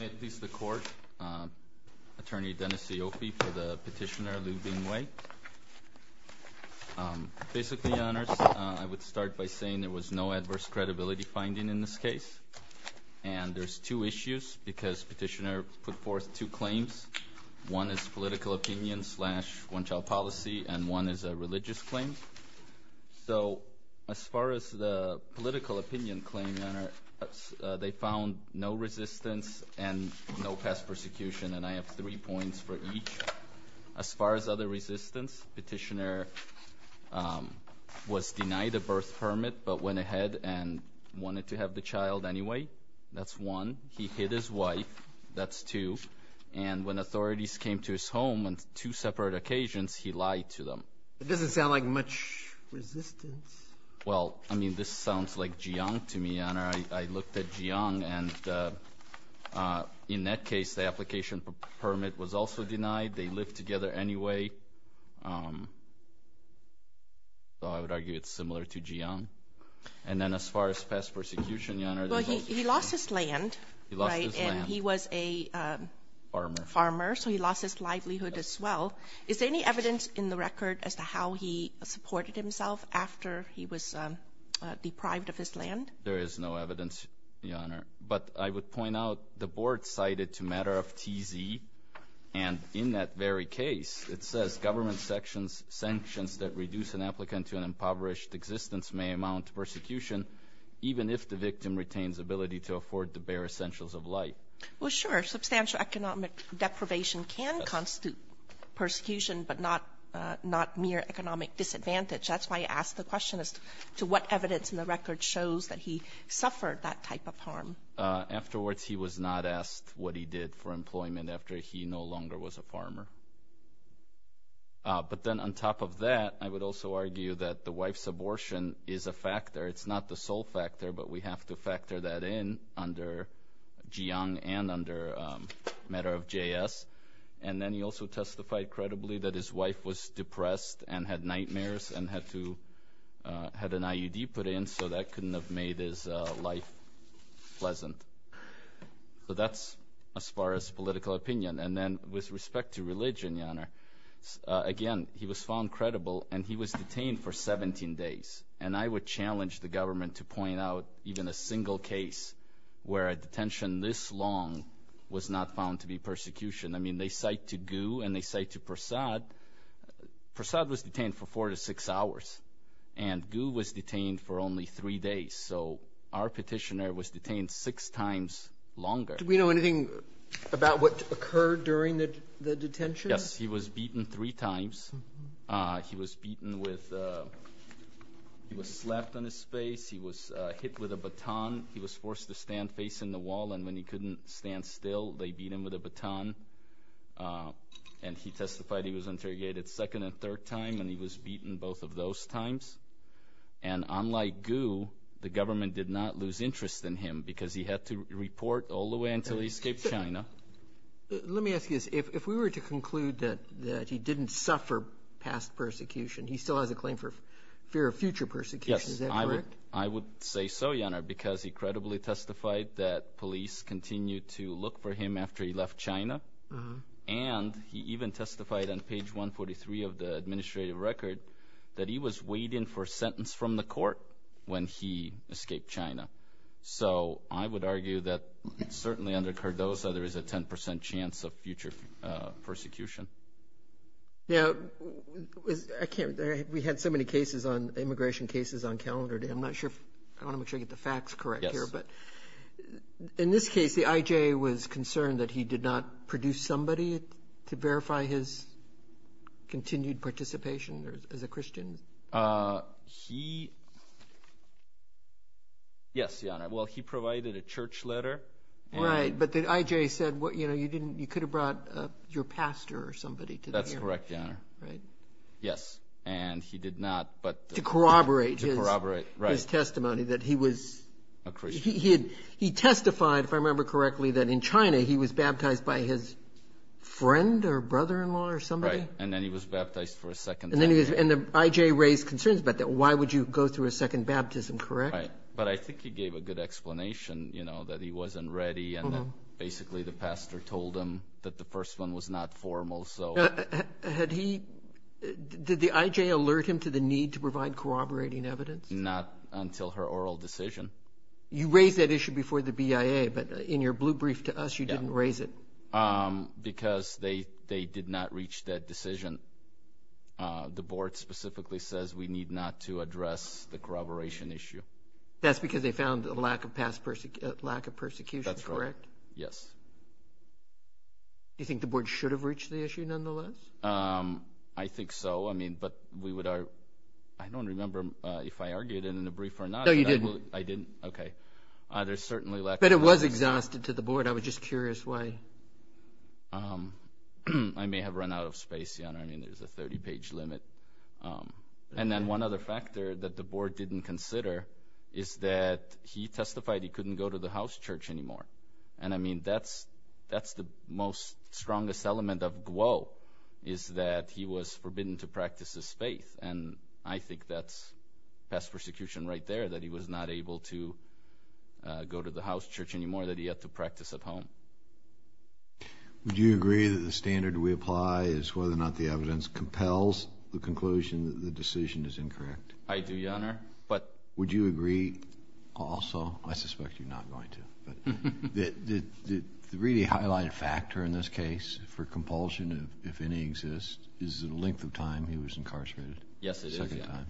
May it please the Court, Attorney Dennis Siofi for the Petitioner Liu Bingwei. Basically, Your Honors, I would start by saying there was no adverse credibility finding in this case. And there's two issues because Petitioner put forth two claims. One is political opinion slash one-child policy and one is a religious claim. So as far as the political opinion claim, Your Honor, they found no resistance and no past persecution. And I have three points for each. As far as other resistance, Petitioner was denied a birth permit but went ahead and wanted to have the child anyway. That's one. He hid his wife. That's two. And when authorities came to his home on two separate occasions, he lied to them. It doesn't sound like much resistance. Well, I mean, this sounds like Jiang to me, Your Honor. I looked at Jiang. And in that case, the application for permit was also denied. They lived together anyway. So I would argue it's similar to Jiang. And then as far as past persecution, Your Honor. Well, he lost his land. He lost his land. And he was a farmer. So he lost his livelihood as well. Is there any evidence in the record as to how he supported himself after he was deprived of his land? There is no evidence, Your Honor. But I would point out the board cited to matter of TZ. And in that very case, it says government sanctions that reduce an applicant to an impoverished existence may amount to persecution, even if the victim retains ability to afford the bare essentials of life. Well, sure. Substantial economic deprivation can constitute persecution, but not mere economic disadvantage. That's why I asked the question as to what evidence in the record shows that he suffered that type of harm. Afterwards, he was not asked what he did for employment after he no longer was a farmer. But then on top of that, I would also argue that the wife's abortion is a factor. But we have to factor that in under Jiang and under matter of JS. And then he also testified credibly that his wife was depressed and had nightmares and had an IUD put in, so that couldn't have made his life pleasant. So that's as far as political opinion. And then with respect to religion, Your Honor, again, he was found credible, and he was detained for 17 days. And I would challenge the government to point out even a single case where a detention this long was not found to be persecution. I mean, they cite to Gu and they cite to Prasad. Prasad was detained for four to six hours, and Gu was detained for only three days. So our petitioner was detained six times longer. Do we know anything about what occurred during the detention? Yes, he was beaten three times. He was beaten with – he was slapped on his face. He was hit with a baton. He was forced to stand facing the wall, and when he couldn't stand still, they beat him with a baton. And he testified he was interrogated a second and third time, and he was beaten both of those times. And unlike Gu, the government did not lose interest in him because he had to report all the way until he escaped China. Let me ask you this. If we were to conclude that he didn't suffer past persecution, he still has a claim for fear of future persecution. Is that correct? Yes, I would say so, Your Honor, because he credibly testified that police continued to look for him after he left China. And he even testified on page 143 of the administrative record that he was waiting for a sentence from the court when he escaped China. So I would argue that certainly under Cardozo, there is a 10 percent chance of future persecution. Now, I can't – we had so many cases on – immigration cases on calendar today. I'm not sure – I want to make sure I get the facts correct here. Yes. But in this case, the IJA was concerned that he did not produce somebody to verify his continued participation as a Christian? He – yes, Your Honor. Well, he provided a church letter. Right. But the IJA said, you know, you didn't – you could have brought your pastor or somebody to the hearing. That's correct, Your Honor. Right. Yes. And he did not, but – To corroborate his – To corroborate, right. His testimony that he was – A Christian. He testified, if I remember correctly, that in China he was baptized by his friend or brother-in-law or somebody. Right. And then he was baptized for a second time. And then he was – and the IJA raised concerns about that. Why would you go through a second baptism, correct? Right. But I think he gave a good explanation, you know, that he wasn't ready and that basically the pastor told him that the first one was not formal. So – Had he – did the IJA alert him to the need to provide corroborating evidence? Not until her oral decision. You raised that issue before the BIA, but in your blue brief to us, you didn't raise it. Because they did not reach that decision. The board specifically says we need not to address the corroboration issue. That's because they found a lack of persecution, correct? That's right. Yes. Do you think the board should have reached the issue nonetheless? I think so. I mean, but we would – I don't remember if I argued it in the brief or not. I didn't? Okay. There's certainly lack of – But it was exhausted to the board. I was just curious why. I may have run out of space, Your Honor. I mean, there's a 30-page limit. And then one other factor that the board didn't consider is that he testified he couldn't go to the house church anymore. And I mean, that's the most strongest element of Guo is that he was forbidden to practice his faith. And I think that's pest persecution right there, that he was not able to go to the house church anymore, that he had to practice at home. Would you agree that the standard we apply is whether or not the evidence compels the conclusion that the decision is incorrect? I do, Your Honor. But – Would you agree also – I suspect you're not going to. The really highlighted factor in this case for compulsion, if any exists, is the length of time he was incarcerated. Yes, it is. The second time.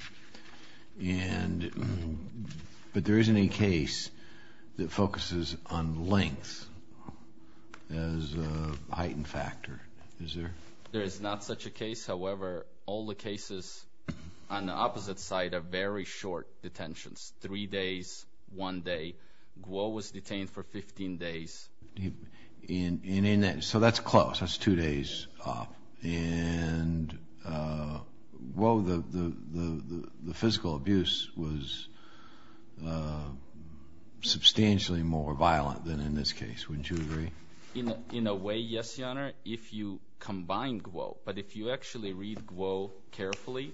And – but there isn't any case that focuses on length as a heightened factor, is there? There is not such a case. However, all the cases on the opposite side are very short detentions, three days, one day. Guo was detained for 15 days. And in that – so that's close. That's two days off. And, whoa, the physical abuse was substantially more violent than in this case. Wouldn't you agree? In a way, yes, Your Honor, if you combine Guo. But if you actually read Guo carefully,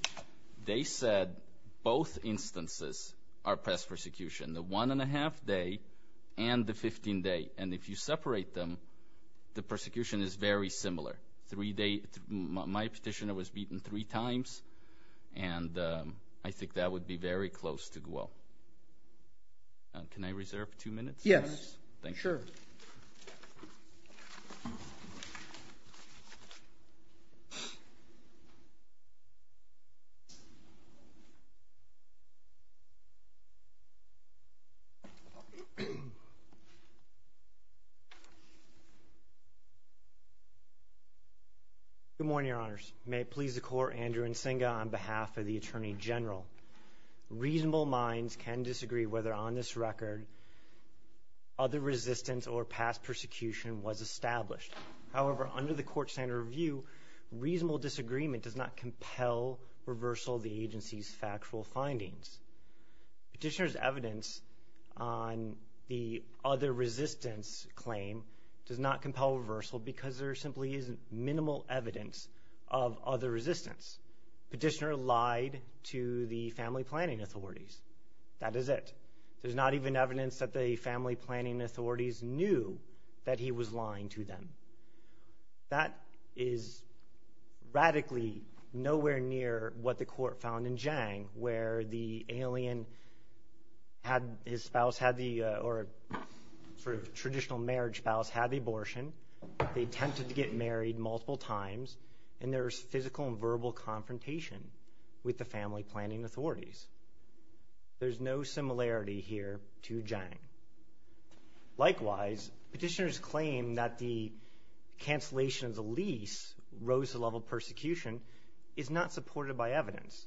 they said both instances are pest persecution. The one and a half day and the 15 day. And if you separate them, the persecution is very similar. Three days – my petitioner was beaten three times, and I think that would be very close to Guo. Can I reserve two minutes? Yes. Thank you. Sure. Thank you. Good morning, Your Honors. May it please the Court, Andrew Nsinga on behalf of the Attorney General. Reasonable minds can disagree whether on this record other resistance or past persecution was established. However, under the Court Standard Review, reasonable disagreement does not compel reversal of the agency's factual findings. Petitioner's evidence on the other resistance claim does not compel reversal because there simply isn't minimal evidence of other resistance. Petitioner lied to the family planning authorities. That is it. There's not even evidence that the family planning authorities knew that he was lying to them. That is radically nowhere near what the Court found in Jiang, where the alien had – his spouse had the – or sort of traditional marriage spouse had the abortion. They attempted to get married multiple times, and there was physical and verbal confrontation with the family planning authorities. There's no similarity here to Jiang. Likewise, petitioner's claim that the cancellation of the lease rose the level of persecution is not supported by evidence.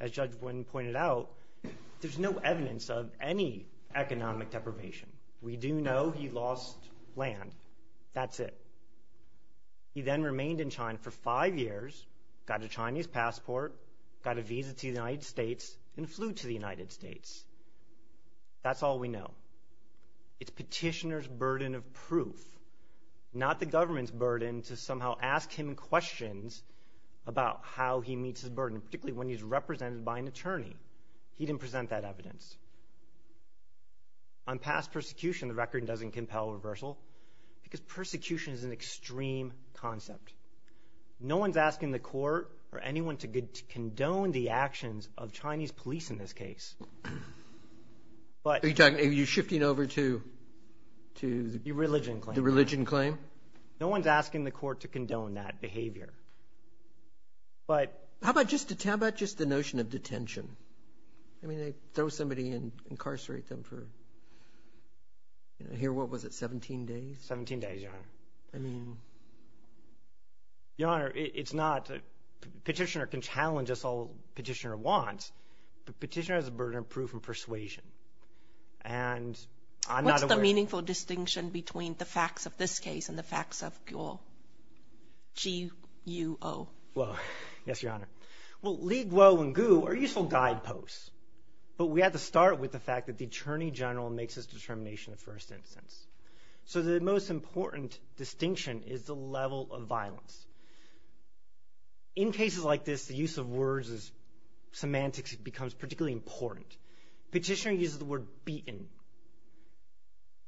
As Judge Wynn pointed out, there's no evidence of any economic deprivation. We do know he lost land. That's it. He then remained in China for five years, got a Chinese passport, got a visa to the United States, and flew to the United States. That's all we know. It's petitioner's burden of proof, not the government's burden to somehow ask him questions about how he meets his burden, particularly when he's represented by an attorney. He didn't present that evidence. On past persecution, the record doesn't compel reversal because persecution is an extreme concept. No one's asking the court or anyone to condone the actions of Chinese police in this case. But – Are you shifting over to – The religion claim. The religion claim. No one's asking the court to condone that behavior. But – How about just the notion of detention? I mean, they throw somebody in, incarcerate them for – here, what was it, 17 days? 17 days, Your Honor. I mean – Your Honor, it's not – petitioner can challenge us all petitioner wants, but petitioner has a burden of proof and persuasion. And I'm not aware – What's the meaningful distinction between the facts of this case and the facts of Guo? G-U-O. Well, yes, Your Honor. Well, Li, Guo, and Guo are useful guideposts, but we have to start with the fact that the attorney general makes his determination in the first instance. So the most important distinction is the level of violence. In cases like this, the use of words as semantics becomes particularly important. Petitioner uses the word beaten.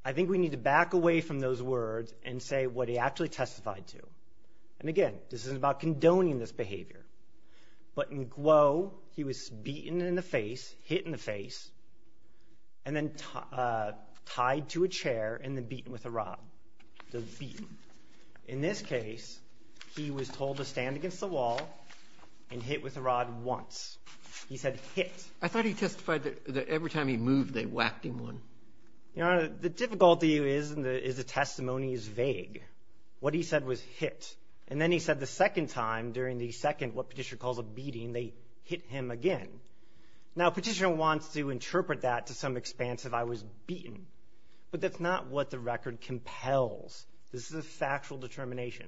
I think we need to back away from those words and say what he actually testified to. And, again, this is about condoning this behavior. But in Guo, he was beaten in the face, hit in the face, and then tied to a chair and then beaten with a rod. The beating. In this case, he was told to stand against the wall and hit with a rod once. He said hit. I thought he testified that every time he moved, they whacked him once. Your Honor, the difficulty is the testimony is vague. What he said was hit. And then he said the second time during the second, what petitioner calls a beating, they hit him again. Now petitioner wants to interpret that to some expanse of I was beaten. But that's not what the record compels. This is a factual determination.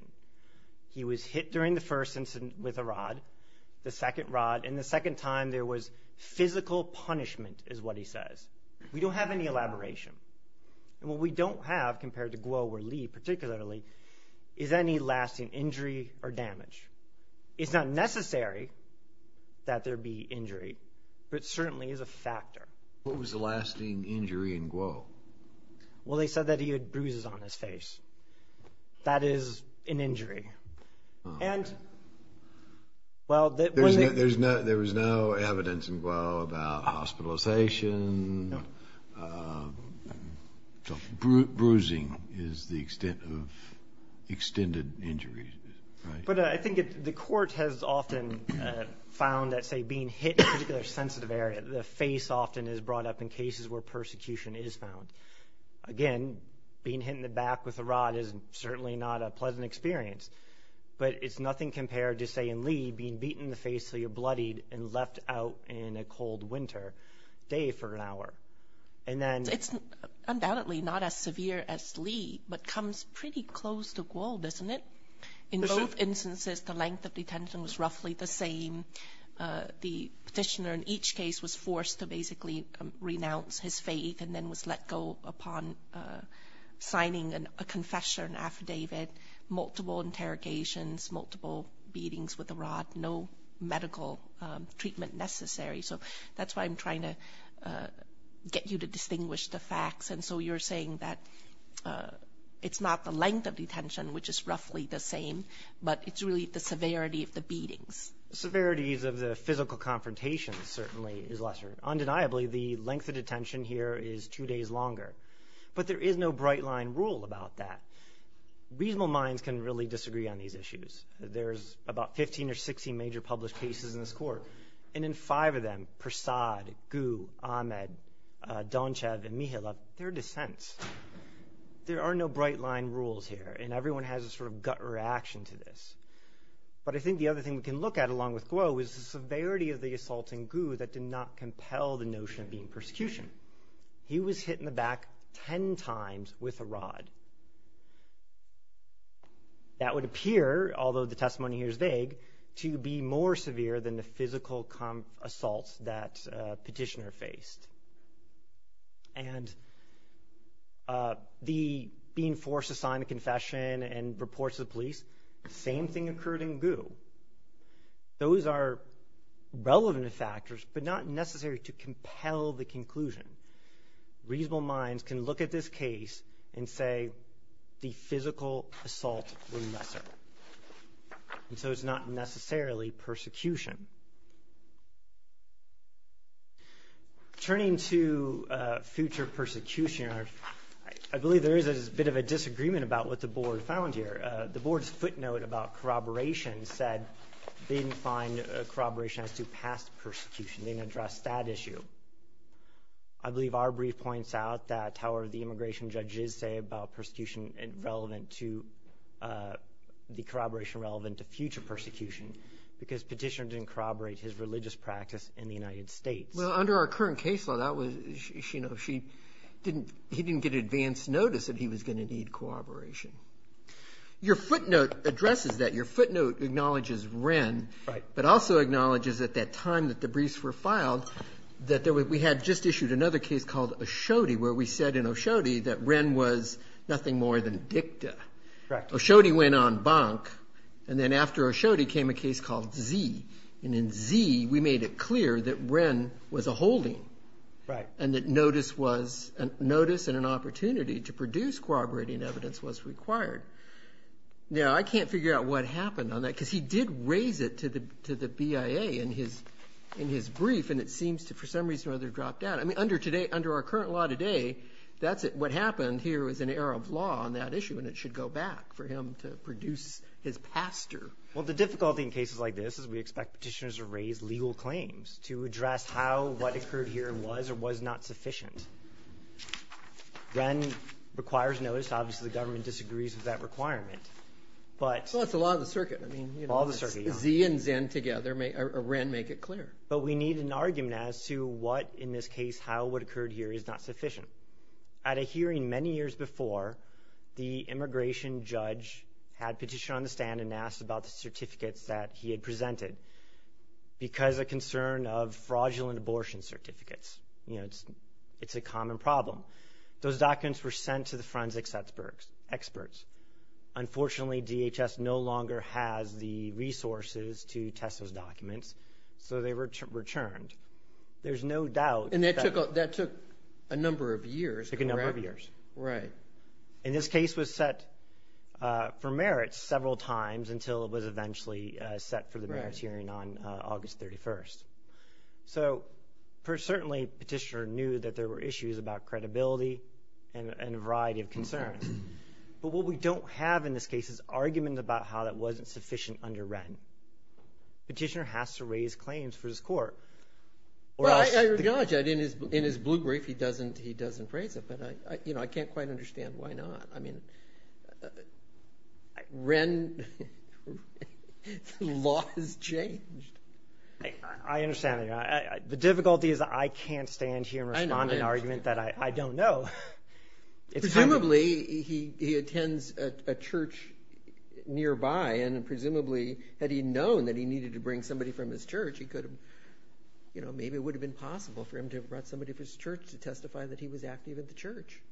He was hit during the first incident with a rod, the second rod, and the second time there was physical punishment is what he says. We don't have any elaboration. And what we don't have compared to Guo or Lee particularly is any lasting injury or damage. It's not necessary that there be injury, but it certainly is a factor. What was the lasting injury in Guo? Well, they said that he had bruises on his face. That is an injury. Oh, okay. There was no evidence in Guo about hospitalization. Bruising is the extent of extended injury. But I think the court has often found that, say, being hit in a particular sensitive area, the face often is brought up in cases where persecution is found. Again, being hit in the back with a rod is certainly not a pleasant experience. But it's nothing compared to, say, in Lee, being beaten in the face so you're bloodied and left out in a cold winter day for an hour. It's undoubtedly not as severe as Lee, but comes pretty close to Guo, doesn't it? In both instances, the length of detention was roughly the same. The petitioner in each case was forced to basically renounce his faith and then was let go upon signing a confession affidavit, multiple interrogations, multiple beatings with a rod, no medical treatment necessary. So that's why I'm trying to get you to distinguish the facts. And so you're saying that it's not the length of detention, which is roughly the same, but it's really the severity of the beatings. Severities of the physical confrontations certainly is lesser. Undeniably, the length of detention here is two days longer. But there is no bright-line rule about that. Reasonable minds can really disagree on these issues. There's about 15 or 16 major published cases in this court. And in five of them, Prasad, Guo, Ahmed, Donchev, and Mihailov, there are dissents. There are no bright-line rules here, and everyone has a sort of gut reaction to this. But I think the other thing we can look at, along with Guo, is the severity of the assaulting Guo that did not compel the notion of being persecution. He was hit in the back ten times with a rod. That would appear, although the testimony here is vague, to be more severe than the physical assault that Petitioner faced. And being forced to sign a confession and report to the police, the same thing occurred in Guo. Those are relevant factors, but not necessary to compel the conclusion. Reasonable minds can look at this case and say the physical assault was lesser. And so it's not necessarily persecution. Turning to future persecution, I believe there is a bit of a disagreement about what the board found here. The board's footnote about corroboration said they didn't find corroboration as to past persecution. They didn't address that issue. I believe our brief points out that, however, the immigration judges say about the corroboration relevant to future persecution, because Petitioner didn't corroborate his religious practice in the United States. Well, under our current case law, he didn't get advance notice that he was going to need corroboration. Your footnote addresses that. Your footnote acknowledges Wren, but also acknowledges at that time that the briefs were filed, that we had just issued another case called Oshode, where we said in Oshode that Wren was nothing more than dicta. Correct. Oshode went on bonk, and then after Oshode came a case called Z. And in Z, we made it clear that Wren was a holding. Right. And that notice and an opportunity to produce corroborating evidence was required. Now, I can't figure out what happened on that, because he did raise it to the BIA in his brief, and it seems to, for some reason or other, drop down. I mean, under our current law today, that's what happened here was an error of law on that issue, and it should go back for him to produce his pastor. Well, the difficulty in cases like this is we expect Petitioners to raise legal claims to address how, what occurred here was or was not sufficient. Wren requires notice. Obviously, the government disagrees with that requirement. Well, that's the law of the circuit. I mean, you know. The law of the circuit, yeah. Z and Wren make it clear. But we need an argument as to what, in this case, how what occurred here is not sufficient. At a hearing many years before, the immigration judge had a petition on the stand and asked about the certificates that he had presented because of concern of fraudulent abortion certificates. You know, it's a common problem. Those documents were sent to the forensic experts. Unfortunately, DHS no longer has the resources to test those documents, so they were returned. There's no doubt. And that took a number of years. It took a number of years. Right. And this case was set for merits several times until it was eventually set for the merits hearing on August 31st. So certainly Petitioner knew that there were issues about credibility and a variety of concerns. But what we don't have in this case is argument about how that wasn't sufficient under Wren. Petitioner has to raise claims for his court. Well, I acknowledge that in his blue brief he doesn't raise it. But, you know, I can't quite understand why not. I mean, Wren, the law has changed. I understand. The difficulty is I can't stand here and respond to an argument that I don't know. Presumably, he attends a church nearby, and presumably had he known that he needed to bring somebody from his church, he could have, you know, maybe it would have been possible for him to have brought somebody from his church to testify that he was active at the church,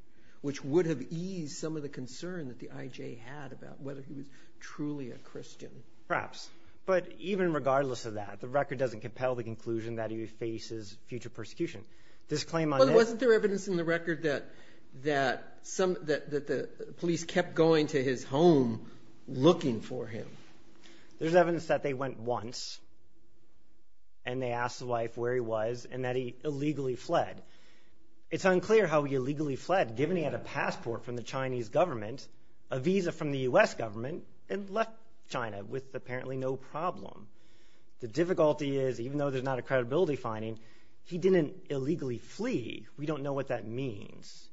which would have eased some of the concern that the IJ had about whether he was truly a Christian. Perhaps. But even regardless of that, the record doesn't compel the conclusion that he faces future persecution. But wasn't there evidence in the record that the police kept going to his home looking for him? There's evidence that they went once, and they asked the wife where he was, and that he illegally fled. It's unclear how he illegally fled, given he had a passport from the Chinese government, a visa from the U.S. government, and left China with apparently no problem. The difficulty is, even though there's not a credibility finding, he didn't illegally flee. We don't know what that means.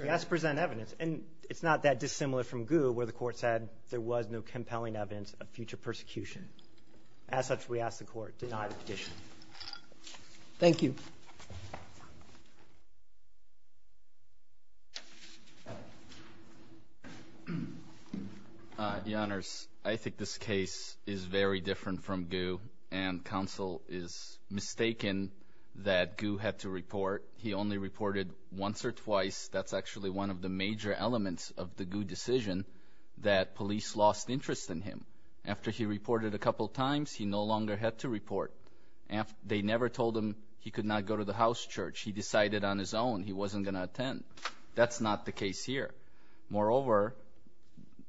We ask to present evidence, and it's not that dissimilar from Gu, where the Court said there was no compelling evidence of future persecution. As such, we ask the Court, deny the petition. Thank you. Your Honors, I think this case is very different from Gu, and counsel is mistaken that Gu had to report. He only reported once or twice. That's actually one of the major elements of the Gu decision, that police lost interest in him. After he reported a couple times, he no longer had to report. They never told him he could not go to the house church. He decided on his own he wasn't going to attend. That's not the case here. Moreover,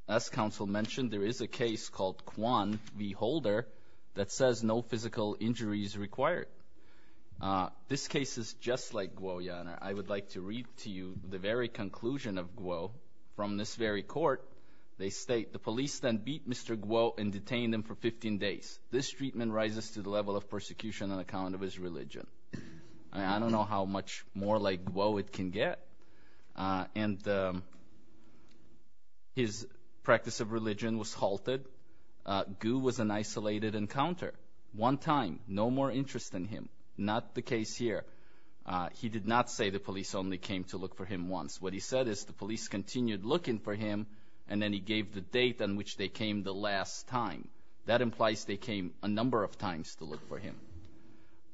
as counsel mentioned, there is a case called Kwan v. Holder that says no physical injury is required. This case is just like Gu, Your Honor. I would like to read to you the very conclusion of Gu from this very Court. They state, the police then beat Mr. Gu and detained him for 15 days. This treatment rises to the level of persecution on account of his religion. I don't know how much more like woe it can get. And his practice of religion was halted. Gu was an isolated encounter. One time, no more interest in him. Not the case here. He did not say the police only came to look for him once. What he said is the police continued looking for him, and then he gave the date on which they came the last time. That implies they came a number of times to look for him.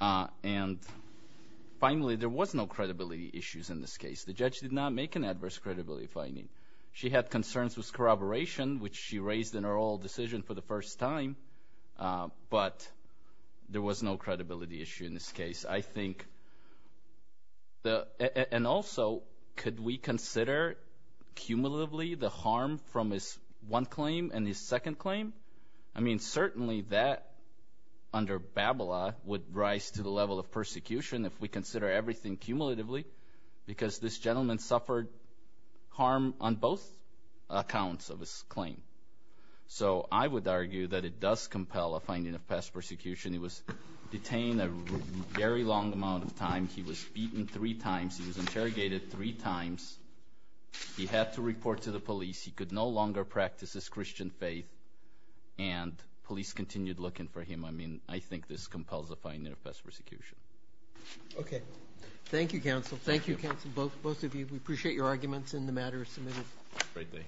And finally, there was no credibility issues in this case. The judge did not make an adverse credibility finding. She had concerns with corroboration, which she raised in her oral decision for the first time, but there was no credibility issue in this case. I think, and also, could we consider cumulatively the harm from his one claim and his second claim? I mean, certainly that under Babila would rise to the level of persecution if we consider everything cumulatively because this gentleman suffered harm on both accounts of his claim. So I would argue that it does compel a finding of past persecution. He was detained a very long amount of time. He was beaten three times. He was interrogated three times. He had to report to the police. He could no longer practice his Christian faith, and police continued looking for him. I mean, I think this compels a finding of past persecution. Okay. Thank you, counsel. Thank you, counsel, both of you. We appreciate your arguments, and the matter is submitted. Great day.